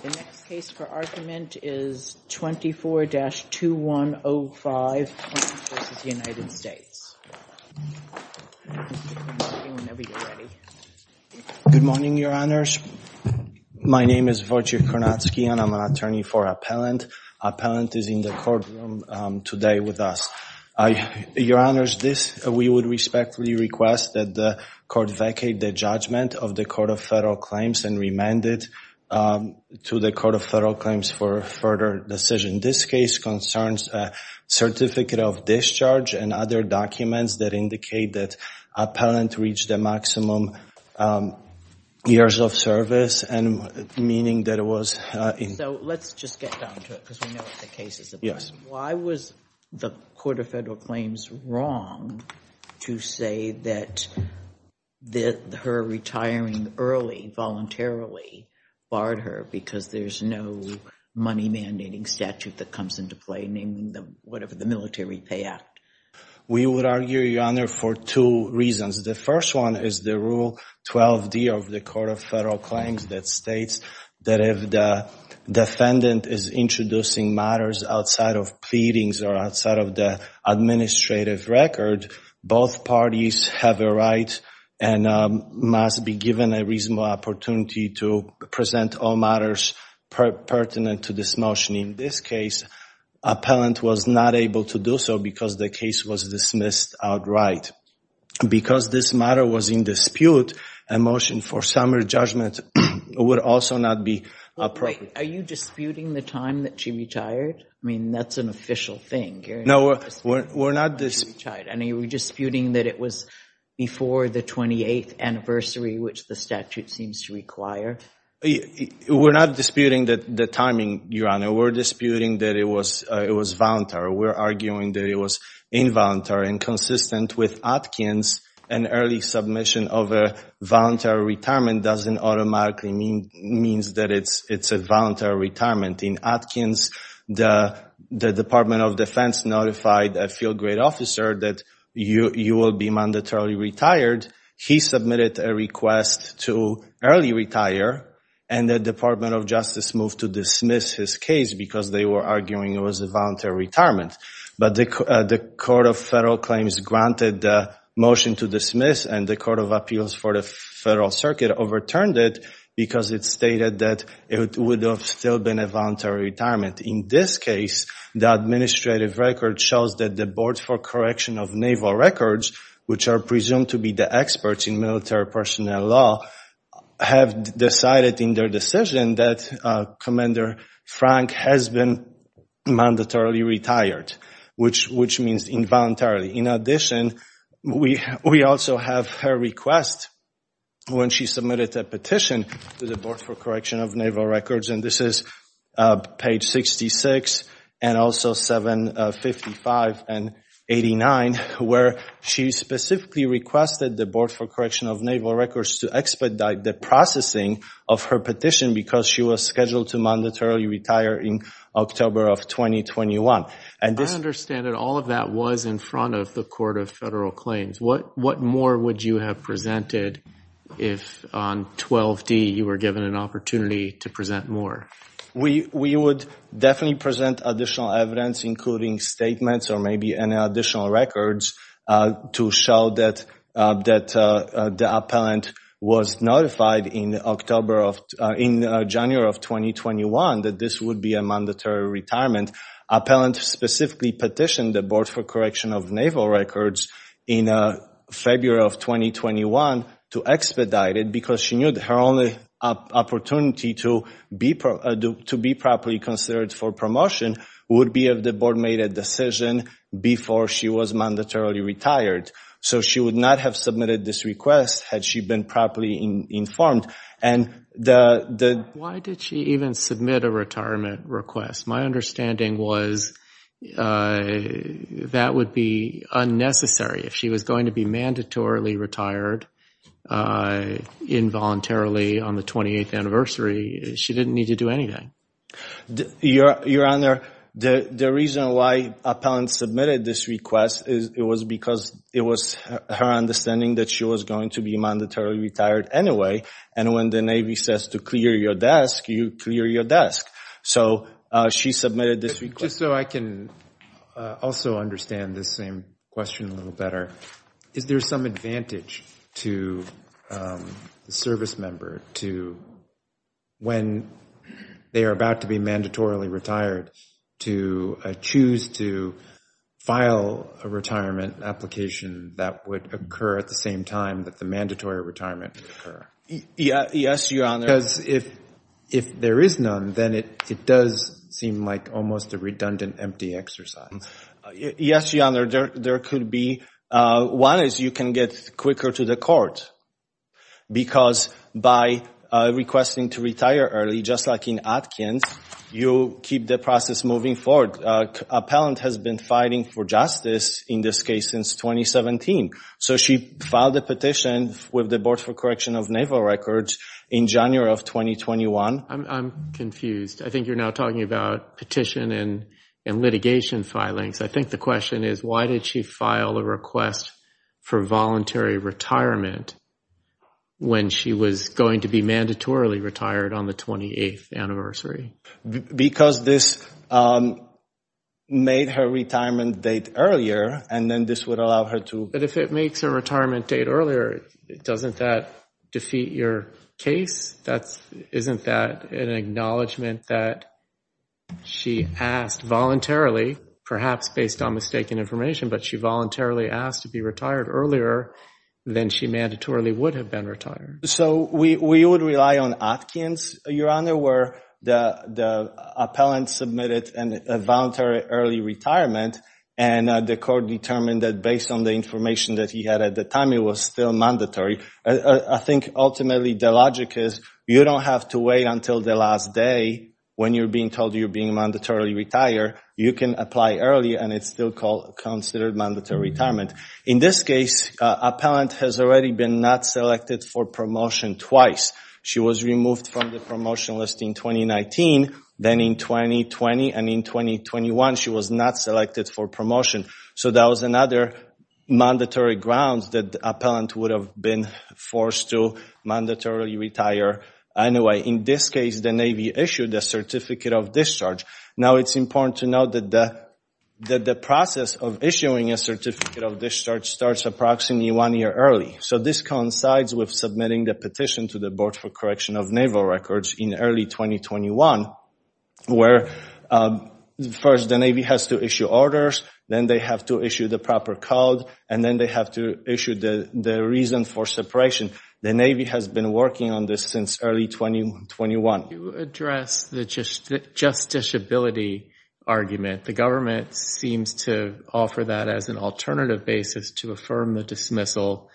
The next case for argument is 24-2105, United States. Good morning, your honors. My name is Wojciech Kornacki and I'm an attorney for appellant. Appellant is in the courtroom today with us. Your honors, we would respectfully request that the court vacate the judgment of the Court of Federal Claims and remand it to the Court of Federal Claims for further decision. This case concerns a certificate of discharge and other documents that indicate that appellant reached the maximum years of service and meaning that it was in. So let's just get down to it because we know what the case is. Yes. Why was the Court of Federal Claims wrong to say that her retiring early voluntarily barred her because there's no money mandating statute that comes into play, naming the whatever the Military Pay Act? We would argue, your honor, for two reasons. The first one is the Rule 12d of the Court of Federal Claims that states that if the defendant is introducing matters outside of pleadings or outside of the administrative record, both parties have a right and must be given a reasonable opportunity to present all matters pertinent to this motion. In this case, appellant was not able to do so because the case was dismissed outright. Because this matter was in dispute, a motion for summary judgment would also not be appropriate. Are you disputing the time that she retired? I mean, that's an official thing. No, we're not disputing that it was before the 28th anniversary, which the statute seems to require. We're not disputing the timing, your honor. We're disputing that it was voluntary. We're arguing that it was involuntary and consistent with Atkins. An early submission of a voluntary retirement doesn't automatically mean that it's a voluntary retirement. In Atkins, the Department of Defense notified a field grade officer that you will be mandatorily retired. He submitted a request to early retire and the Department of Justice moved to dismiss his case because they were arguing it was a voluntary retirement. But the Court of Federal Claims granted the motion to dismiss and the Court of Appeals for the Federal Circuit overturned it because it stated that it would have still been a voluntary retirement. In this case, the administrative record shows that the Board for Correction of Naval Records, which are presumed to be the experts in military personnel law, have decided in their decision that Commander Frank has been mandatorily retired, which means involuntarily. In addition, we also have her request when she submitted a petition to the Board for Correction of Naval Records, and this is page 66 and also 755 and 89, where she specifically requested the Board for Correction of Naval Records to expedite the processing of her petition because she was scheduled to mandatorily retire in October of 2021. I understand that all of that was in front of the Court of Federal Claims. What more would you have presented if on 12-D you were given an opportunity to present more? We would definitely present additional evidence, including statements or maybe additional records, to show that the appellant was notified in January of 2021 that this would be a mandatory retirement. The appellant specifically petitioned the Board for Correction of Naval Records in February of 2021 to expedite it because she knew her only opportunity to be properly considered for promotion would be if the Board made a decision before she was mandatorily retired. So she would not have submitted this request had she been properly informed. Why did she even submit a retirement request? My understanding was that would be unnecessary. If she was going to be mandatorily retired involuntarily on the 28th anniversary, she didn't need to do anything. Your Honor, the reason why appellants submitted this request is it was because it was her understanding that she was going to be mandatorily retired anyway. And when the Navy says to clear your desk, you clear your desk. So she submitted this request. Just so I can also understand this same question a little better, is there some advantage to the service member to, when they are about to be mandatorily retired, to choose to file a retirement application that would occur at the same time that the mandatory retirement would occur? Yes, Your Honor. Because if there is none, then it does seem like almost a redundant, empty exercise. Yes, Your Honor. There could be. One is you can get quicker to the court because by requesting to retire early, just like in Atkins, you keep the process moving forward. Appellant has been fighting for justice in this case since 2017. So she filed a petition with the Board for Correction of Naval Records in January of 2021. I'm confused. I think you're now talking about petition and litigation filings. I think the question is why did she file a request for voluntary retirement when she was going to be mandatorily retired on the 28th anniversary? Because this made her retirement date earlier, and then this would allow her to. But if it makes her retirement date earlier, doesn't that defeat your case? Isn't that an acknowledgement that she asked voluntarily, perhaps based on mistaken information, but she voluntarily asked to be retired earlier than she mandatorily would have been retired? So we would rely on Atkins, Your Honor, where the appellant submitted a voluntary early retirement, and the court determined that based on the information that he had at the time, it was still mandatory. I think ultimately the logic is you don't have to wait until the last day when you're being told you're being mandatorily retired. You can apply early, and it's still considered mandatory retirement. In this case, appellant has already been not selected for promotion twice. She was removed from the promotion list in 2019, then in 2020, and in 2021, she was not selected for promotion. So that was another mandatory grounds that the appellant would have been forced to mandatorily retire anyway. In this case, the Navy issued a certificate of discharge. Now it's important to note that the process of issuing a certificate of discharge starts approximately one year early. So this coincides with submitting the petition to the Board for Naval Records in early 2021, where first the Navy has to issue orders, then they have to issue the proper code, and then they have to issue the reason for separation. The Navy has been working on this since early 2021. To address the justiciability argument, the government seems to offer that as an alternative basis to affirm the dismissal,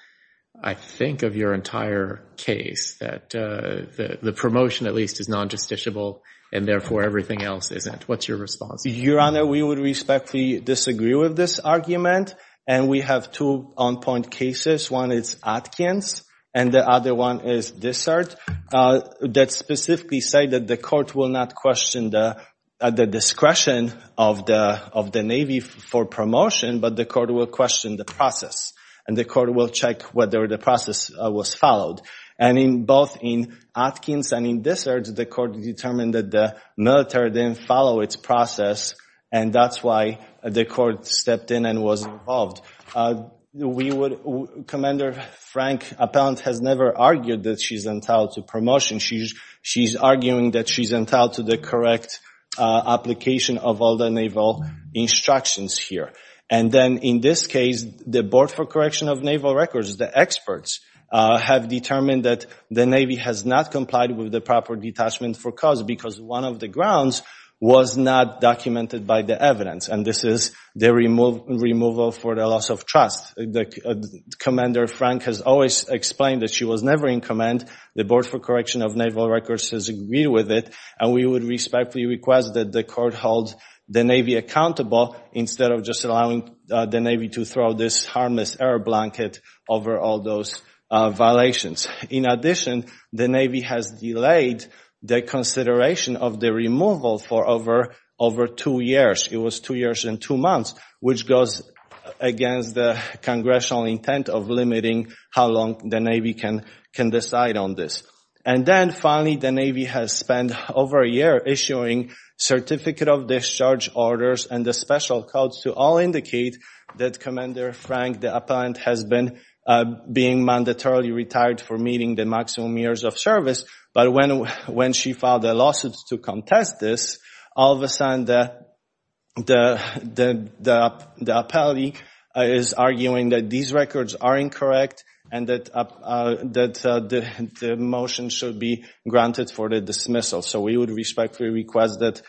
I think, of your entire case, that the promotion at least is non-justiciable, and therefore everything else isn't. What's your response? Your Honor, we would respectfully disagree with this argument, and we have two on-point cases. One is Atkins, and the other one is Dessert, that specifically say that the court will not question the discretion of the Navy for promotion, but the court will question the process, and the court will check whether the process was followed. And both in Atkins and in Dessert, the court determined that the military didn't follow its process, and that's why the court stepped in and was involved. Commander Frank Appellant has never argued that she's entitled to promotion. She's arguing that she's entitled to the correct application of all the Naval instructions here. And then in this case, the Board for Correction of Naval Records, the experts, have determined that the Navy has not complied with the proper detachment for cause, because one of the grounds was not documented by the evidence, and this is the removal for the loss of trust. Commander Frank has always explained that she was never in command. The Board for Correction of Naval Records has agreed with it, and we would respectfully request that the court hold the Navy accountable instead of just allowing the Navy to throw this harmless air blanket over all those violations. In addition, the Navy has delayed the consideration of the removal for over two years. It was two years and two months, which goes against the Congressional intent of limiting how long the Navy can decide on this. And then finally, the Navy has spent over a year issuing certificate of discharge orders and the special codes to all indicate that Commander Frank the Appellant has been being mandatorily retired for meeting the maximum years of service. But when she filed a lawsuit to contest this, all of a sudden the appellate is arguing that these records are incorrect and that the motion should be granted for the dismissal. So we would respectfully request that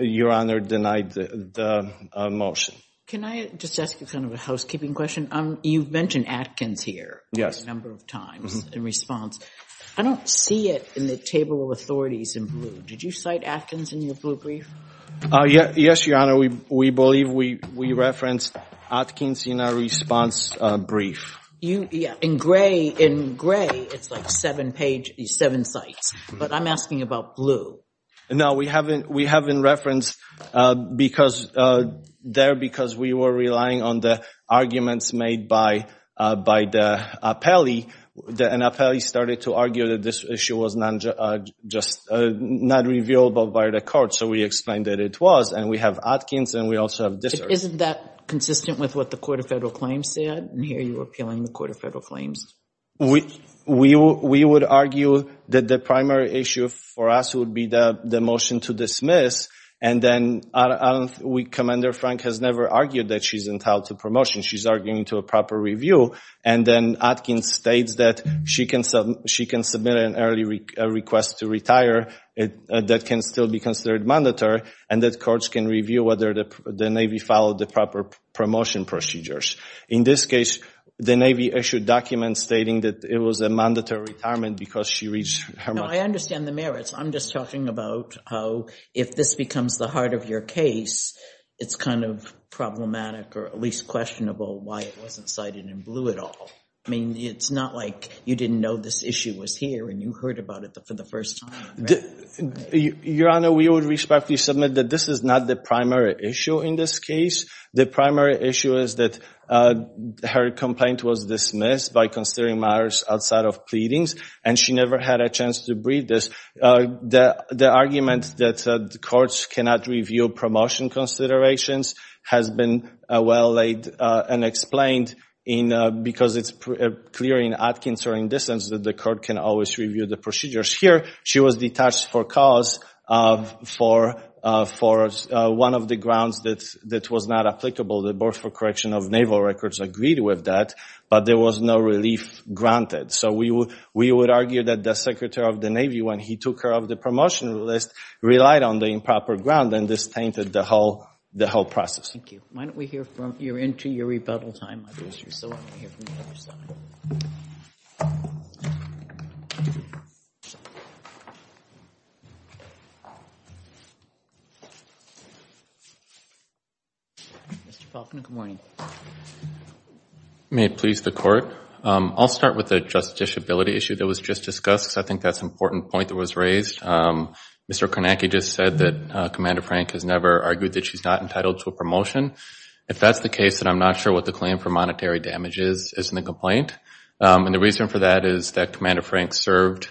Your Honor deny the motion. Can I just ask you kind of a housekeeping question? You've mentioned Atkins here a number of times in response. I don't see it in the table of authorities in blue. Did you cite Atkins in your blue brief? Yes, Your Honor. We believe we referenced Atkins in our response brief. In gray, it's like seven sites. But I'm asking about blue. No, we haven't referenced there because we were relying on the arguments made by the appellee. And the appellee started to argue that this issue was just not reviewable by the court. So we explained that it was. And we have Atkins, and we also have discharge. Isn't that consistent with what the Court of Federal Claims is arguing? We would argue that the primary issue for us would be the motion to dismiss. And then Commander Frank has never argued that she's entitled to promotion. She's arguing to a proper review. And then Atkins states that she can submit an early request to retire that can still be considered mandatory and that courts can review whether the Navy followed the proper promotion procedures. In this case, the Navy issued documents stating that it was a mandatory retirement because she reached her— No, I understand the merits. I'm just talking about how if this becomes the heart of your case, it's kind of problematic or at least questionable why it wasn't cited in blue at all. I mean, it's not like you didn't know this issue was here and you heard about it for the first time. Your Honor, we would respectfully submit that this is not the primary issue in this case. The primary issue is that her complaint was dismissed by considering matters outside of pleadings, and she never had a chance to brief this. The argument that the courts cannot review promotion considerations has been well laid and explained because it's clear in Atkins or in this instance that the court can always review the procedures. Here, she was detached for cause for one of the grounds that was not applicable. The Board for Correction of Naval Records agreed with that, but there was no relief granted. So, we would argue that the Secretary of the Navy, when he took her off the promotion list, relied on the improper ground and this tainted the whole process. Thank you. Why don't we hear from—you're into your rebuttal time. Mr. Falconer, good morning. May it please the Court. I'll start with the justiciability issue that was just discussed because I think that's an important point that was raised. Mr. Kornacki just said that Commander Frank has never argued that she's not entitled to a promotion. If that's the case, then I'm not sure what the claim for monetary damage is in the complaint. And the reason for that is that Commander Frank served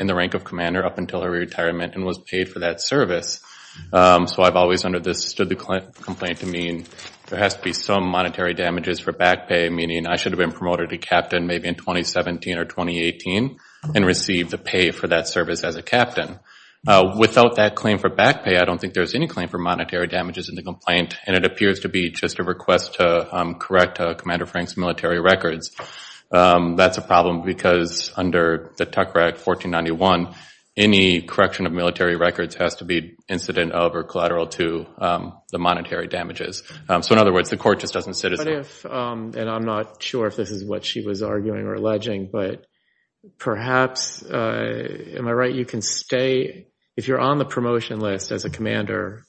in the rank of commander up until her retirement and was paid for that service. So, I've always understood the complaint to mean there has to be some monetary damages for back pay, meaning I should have been promoted to captain maybe in 2017 or 2018 and received the pay for that service as a captain. Without that claim for back pay, I don't think there's any claim for monetary damages in the complaint and it appears to be just a request to correct Commander Frank's military records. That's a problem because under the Tuck Act 1491, any correction of military records has to be incident of or collateral to the monetary damages. So, in other words, the Court just doesn't sit as— But if, and I'm not sure if this is what she was arguing or alleging, but perhaps, am I right, you can stay—if you're on the promotion list as a 28 years,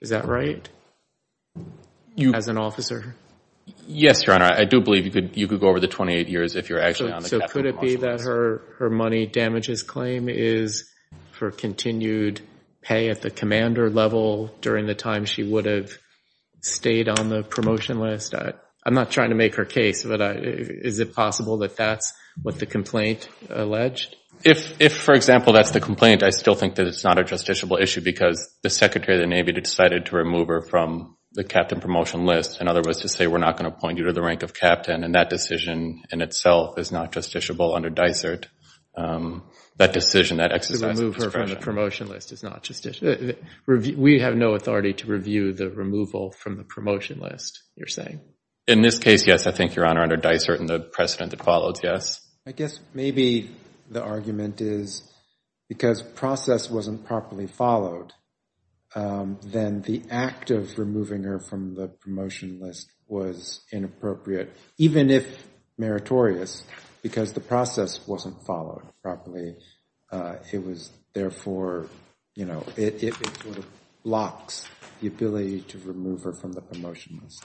is that right? As an officer? Yes, Your Honor. I do believe you could go over the 28 years if you're actually on the promotion list. So, could it be that her money damages claim is for continued pay at the commander level during the time she would have stayed on the promotion list? I'm not trying to make her case, but is it possible that that's what the complaint alleged? If, for example, that's the complaint, I still think that it's not a justiciable issue because the Secretary of the Navy decided to remove her from the captain promotion list. In other words, to say we're not going to point you to the rank of captain and that decision in itself is not justiciable under DICERT. That decision, that exercise of discretion— To remove her from the promotion list is not justiciable. We have no authority to review the removal from the promotion list, you're saying? In this case, yes, I think, Your Honor, under DICERT and the precedent that follows, yes. I guess maybe the argument is because process wasn't properly followed, then the act of removing her from the promotion list was inappropriate, even if meritorious, because the process wasn't followed properly. It was therefore, you know, it sort of blocks the ability to remove her from the promotion list.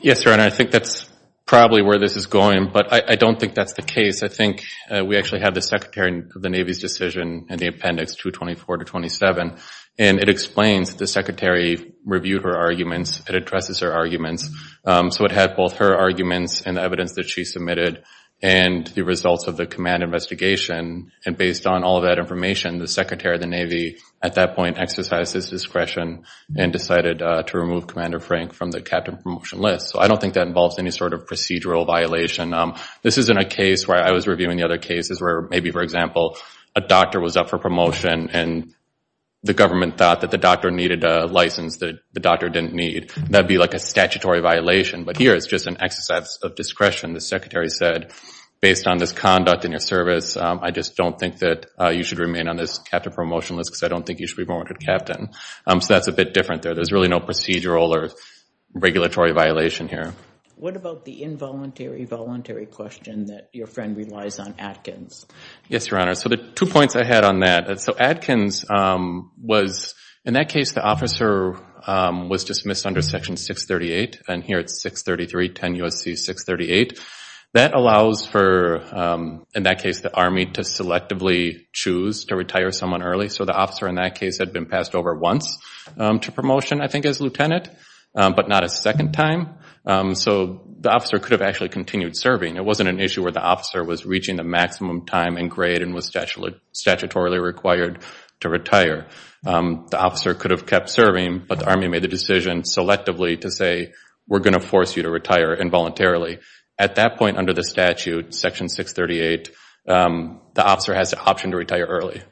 Yes, Your Honor, I think that's probably where this is going, but I don't think that's the case. I think we actually have the Secretary of the Navy's decision in the appendix 224-27, and it explains the Secretary reviewed her arguments, it addresses her arguments, so it had both her arguments and the evidence that she submitted and the results of the command investigation, and based on all of that information, the Secretary of the Navy at that point exercised his discretion and decided to remove Commander Frank from the captain promotion list. So I don't think that involves any sort of procedural violation. This isn't a case where I was reviewing the other cases where maybe, for example, a doctor was up for promotion and the government thought that the doctor needed a license that the doctor didn't need. That'd be like a statutory violation, but here it's just an exercise of discretion. The Secretary said, based on this conduct in your service, I just don't think that you should remain on this captain promotion list because I don't think you should be promoted captain. So that's a bit different there. There's really no procedural or regulatory violation here. What about the involuntary-voluntary question that your friend relies on, Atkins? Yes, Your Honor. So the two points I had on that, so Atkins was, in that case, the officer was dismissed under Section 638, and here it's 633, 10 U.S.C. 638. That allows for, in that case, the Army to selectively choose to retire someone early. So the officer in that case had been passed over once to promotion, I think, as lieutenant, but not a second time. So the officer could have actually continued serving. It wasn't an issue where the officer was reaching the maximum time and grade and was statutorily required to retire. The officer could have kept serving, but the Army made the decision selectively to say, we're going to force you to retire involuntarily. At that point under the statute, Section 638, the officer has the option to retire early.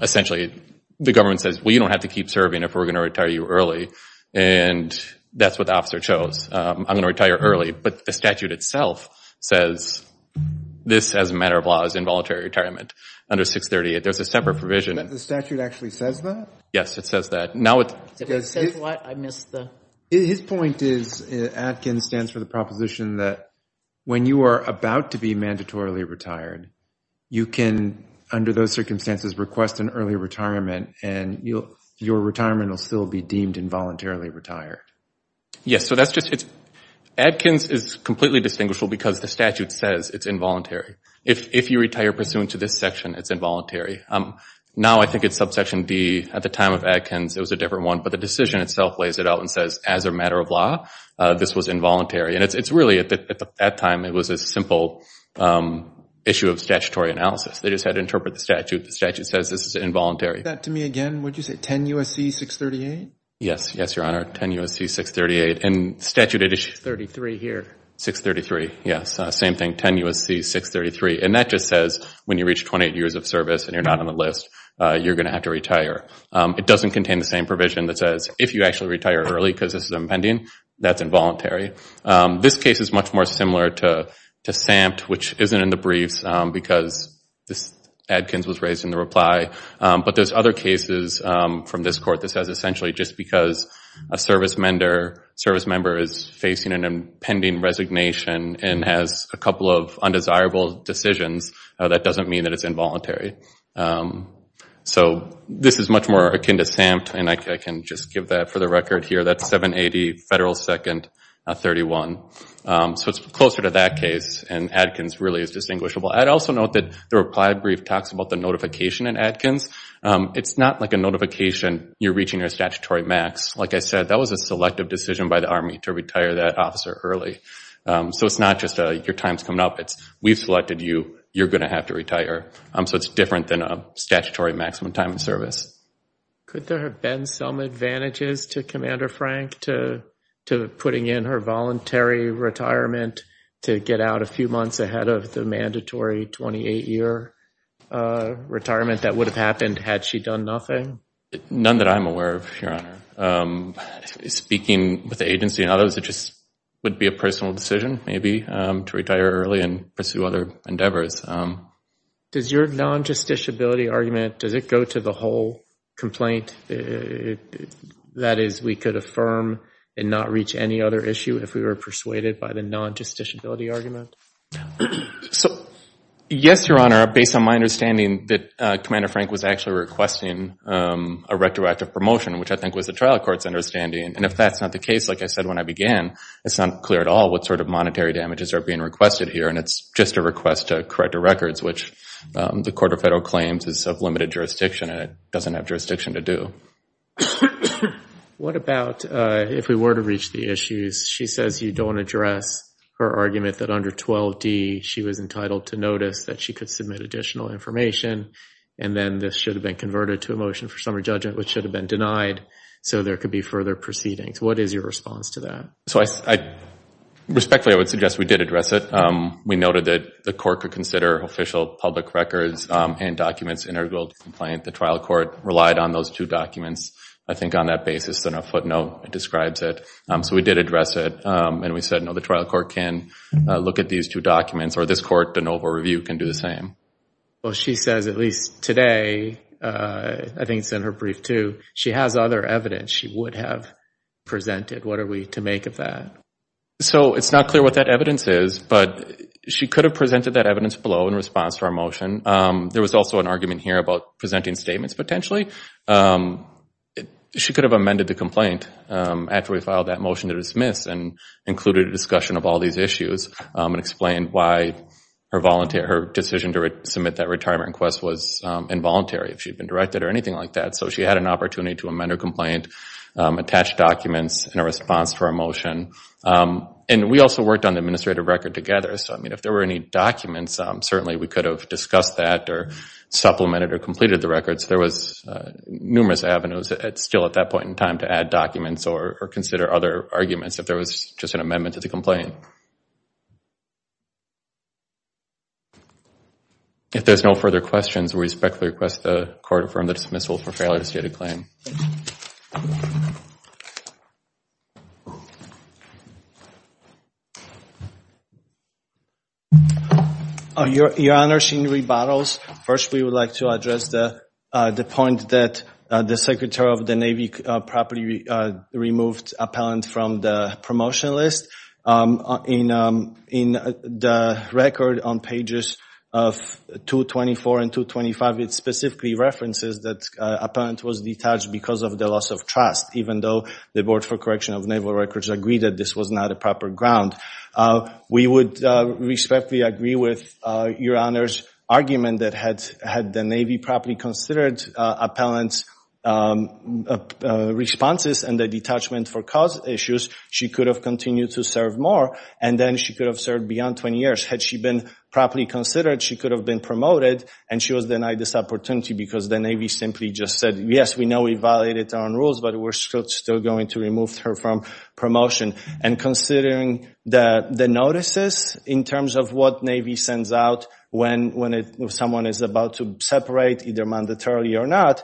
Essentially, the government says, well, you don't have to keep serving if we're going to retire you early, and that's what the officer chose. I'm going to retire early, but the statute itself says this, as a matter of law, is involuntary retirement under 638. There's a separate provision. The statute actually says that? Yes, it says that. His point is, Atkins stands for the proposition that when you are about to be mandatorily retired, you can, under those circumstances, request an early retirement, and your retirement will still be deemed involuntarily retired. Yes, so that's just, Atkins is completely distinguishable because the statute says it's involuntary. If you retire pursuant to this section, it's involuntary. Now I think it's subsection D. At the time of Atkins, it was a different one, but the decision itself lays it out and says, as a matter of law, this was involuntary. And it's really, at that time, it was a simple issue of statutory analysis. They just had to interpret the statute. The statute says this is involuntary. Say that to me again, would you say 10 U.S.C. 638? Yes, yes, your honor, 10 U.S.C. 638. And statute it is 633 here. 633, yes, same thing, 10 U.S.C. 633. And that just says, when you reach 28 years of service and you're not on the list, you're going to have to retire. It doesn't contain the same provision that says, if you actually retire early because this is impending, that's involuntary. This case is much more to SAMT, which isn't in the briefs, because Atkins was raised in the reply. But there's other cases from this court that says, essentially, just because a service member is facing an impending resignation and has a couple of undesirable decisions, that doesn't mean that it's involuntary. So this is much more akin to SAMT. And I can just give that for the record here, that's 780 Federal 2nd 31. So it's closer to that case, and Atkins really is distinguishable. I'd also note that the reply brief talks about the notification in Atkins. It's not like a notification, you're reaching your statutory max. Like I said, that was a selective decision by the Army to retire that officer early. So it's not just your time's coming up, it's we've selected you, you're going to have to retire. So it's different than a frank to putting in her voluntary retirement to get out a few months ahead of the mandatory 28-year retirement that would have happened had she done nothing? None that I'm aware of, Your Honor. Speaking with the agency and others, it just would be a personal decision, maybe, to retire early and pursue other endeavors. Does your non-justiciability argument, does it go to the whole complaint? That is, we could affirm and not reach any other issue if we were persuaded by the non-justiciability argument? So yes, Your Honor, based on my understanding that Commander Frank was actually requesting a retroactive promotion, which I think was the trial court's understanding. And if that's not the case, like I said when I began, it's not clear at all what sort of monetary damages are being requested here. And it's just a request to correct the records, which the Court of Federal Claims is of limited jurisdiction, and it doesn't have jurisdiction to do. What about if we were to reach the issues? She says you don't address her argument that under 12d she was entitled to notice that she could submit additional information, and then this should have been converted to a motion for summary judgment, which should have been denied, so there could be further proceedings. What is your response to that? So respectfully, I would suggest we did address it. We noted that the Court could consider official public records and documents integral to the complaint. The trial court relied on those two documents, I think, on that basis, and a footnote describes it. So we did address it, and we said, no, the trial court can look at these two documents, or this court, the noble review, can do the same. Well, she says at least today, I think it's in her brief too, she has other evidence she would have presented. What are we to make of that? So it's not clear what that evidence is, but she could have presented that evidence below in response to our motion. There was also an argument here about presenting statements potentially. She could have amended the complaint after we filed that motion to dismiss and included a discussion of all these issues and explained why her decision to submit that retirement request was involuntary, if she had been directed or anything like that. So she had an opportunity to amend her complaint, attach documents in response to our motion, and we also worked on the administrative record together. So if there were any documents, certainly we could have discussed that or supplemented or completed the records. There was numerous avenues still at that point in time to add documents or consider other arguments if there was just an amendment to the complaint. If there's no further questions, we respectfully request the court affirm the dismissal for failure to state a claim. Your Honor, she rebuttals. First, we would like to address the point that the Secretary of the Navy properly removed Appellant from the promotion list. In the record on pages of 224 and 225, it specifically references that Appellant was detached because of the loss of trust, even though the Board for Correction of Naval Records agreed that this was not a proper ground. We would respectfully agree with Your Honor's argument that had the Navy properly considered Appellant's responses and the detachment for cause issues, she could have continued to serve more, and then she could have served beyond 20 years. Had she been properly considered, she could have been promoted, and she was denied this opportunity because the Navy simply just said, yes, we know we violated our own rules, but we're still going to remove her from promotion. Considering the notices in terms of what Navy sends out when someone is about to separate, either mandatorily or not,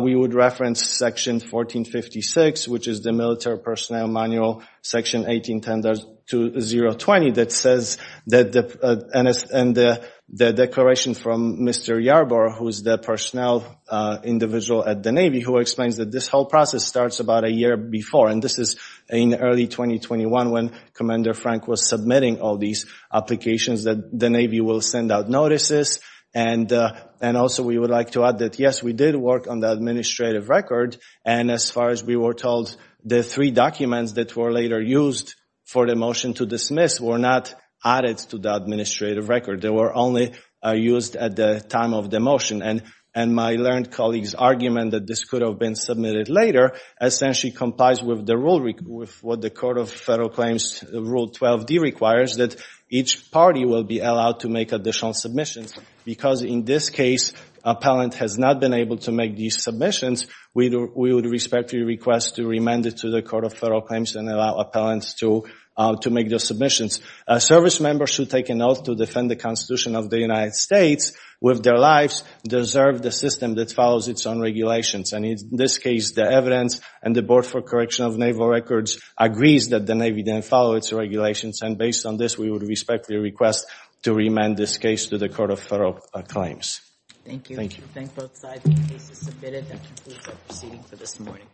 we would reference Section 1456, which is the Military Personnel Manual, Section 1810-020, that says, and the declaration from Mr. Yarborough, who is the personnel individual at the Navy, who explains that this whole process starts about a year before, and this is in early 2021 when Commander Frank was submitting all these applications that the Navy will send out notices, and also we would like to add that, yes, we did work on the administrative record, and as far as we were told, the three documents that were later used for the motion to dismiss were not added to the administrative record. They were only used at the time of the motion, and my learned colleague's argument that this could have been submitted later essentially complies with the rule, with what the Court of Federal Claims Rule 12d requires, that each party will be allowed to make additional submissions, because in this case, appellant has not been able to make these submissions. We would respectfully request to remand it to the Court of Federal Claims and allow appellants to make those submissions. Service members should take an oath to defend the Constitution of the United States with their lives, deserve the system that follows its own regulations, and in this case, the evidence and the Board for Correction of Naval Records agrees that the Navy didn't follow its regulations, and based on this, we would respectfully request to remand this case to the Court of Federal Claims. Thank you. Thank you. Thank both sides. The case is submitted.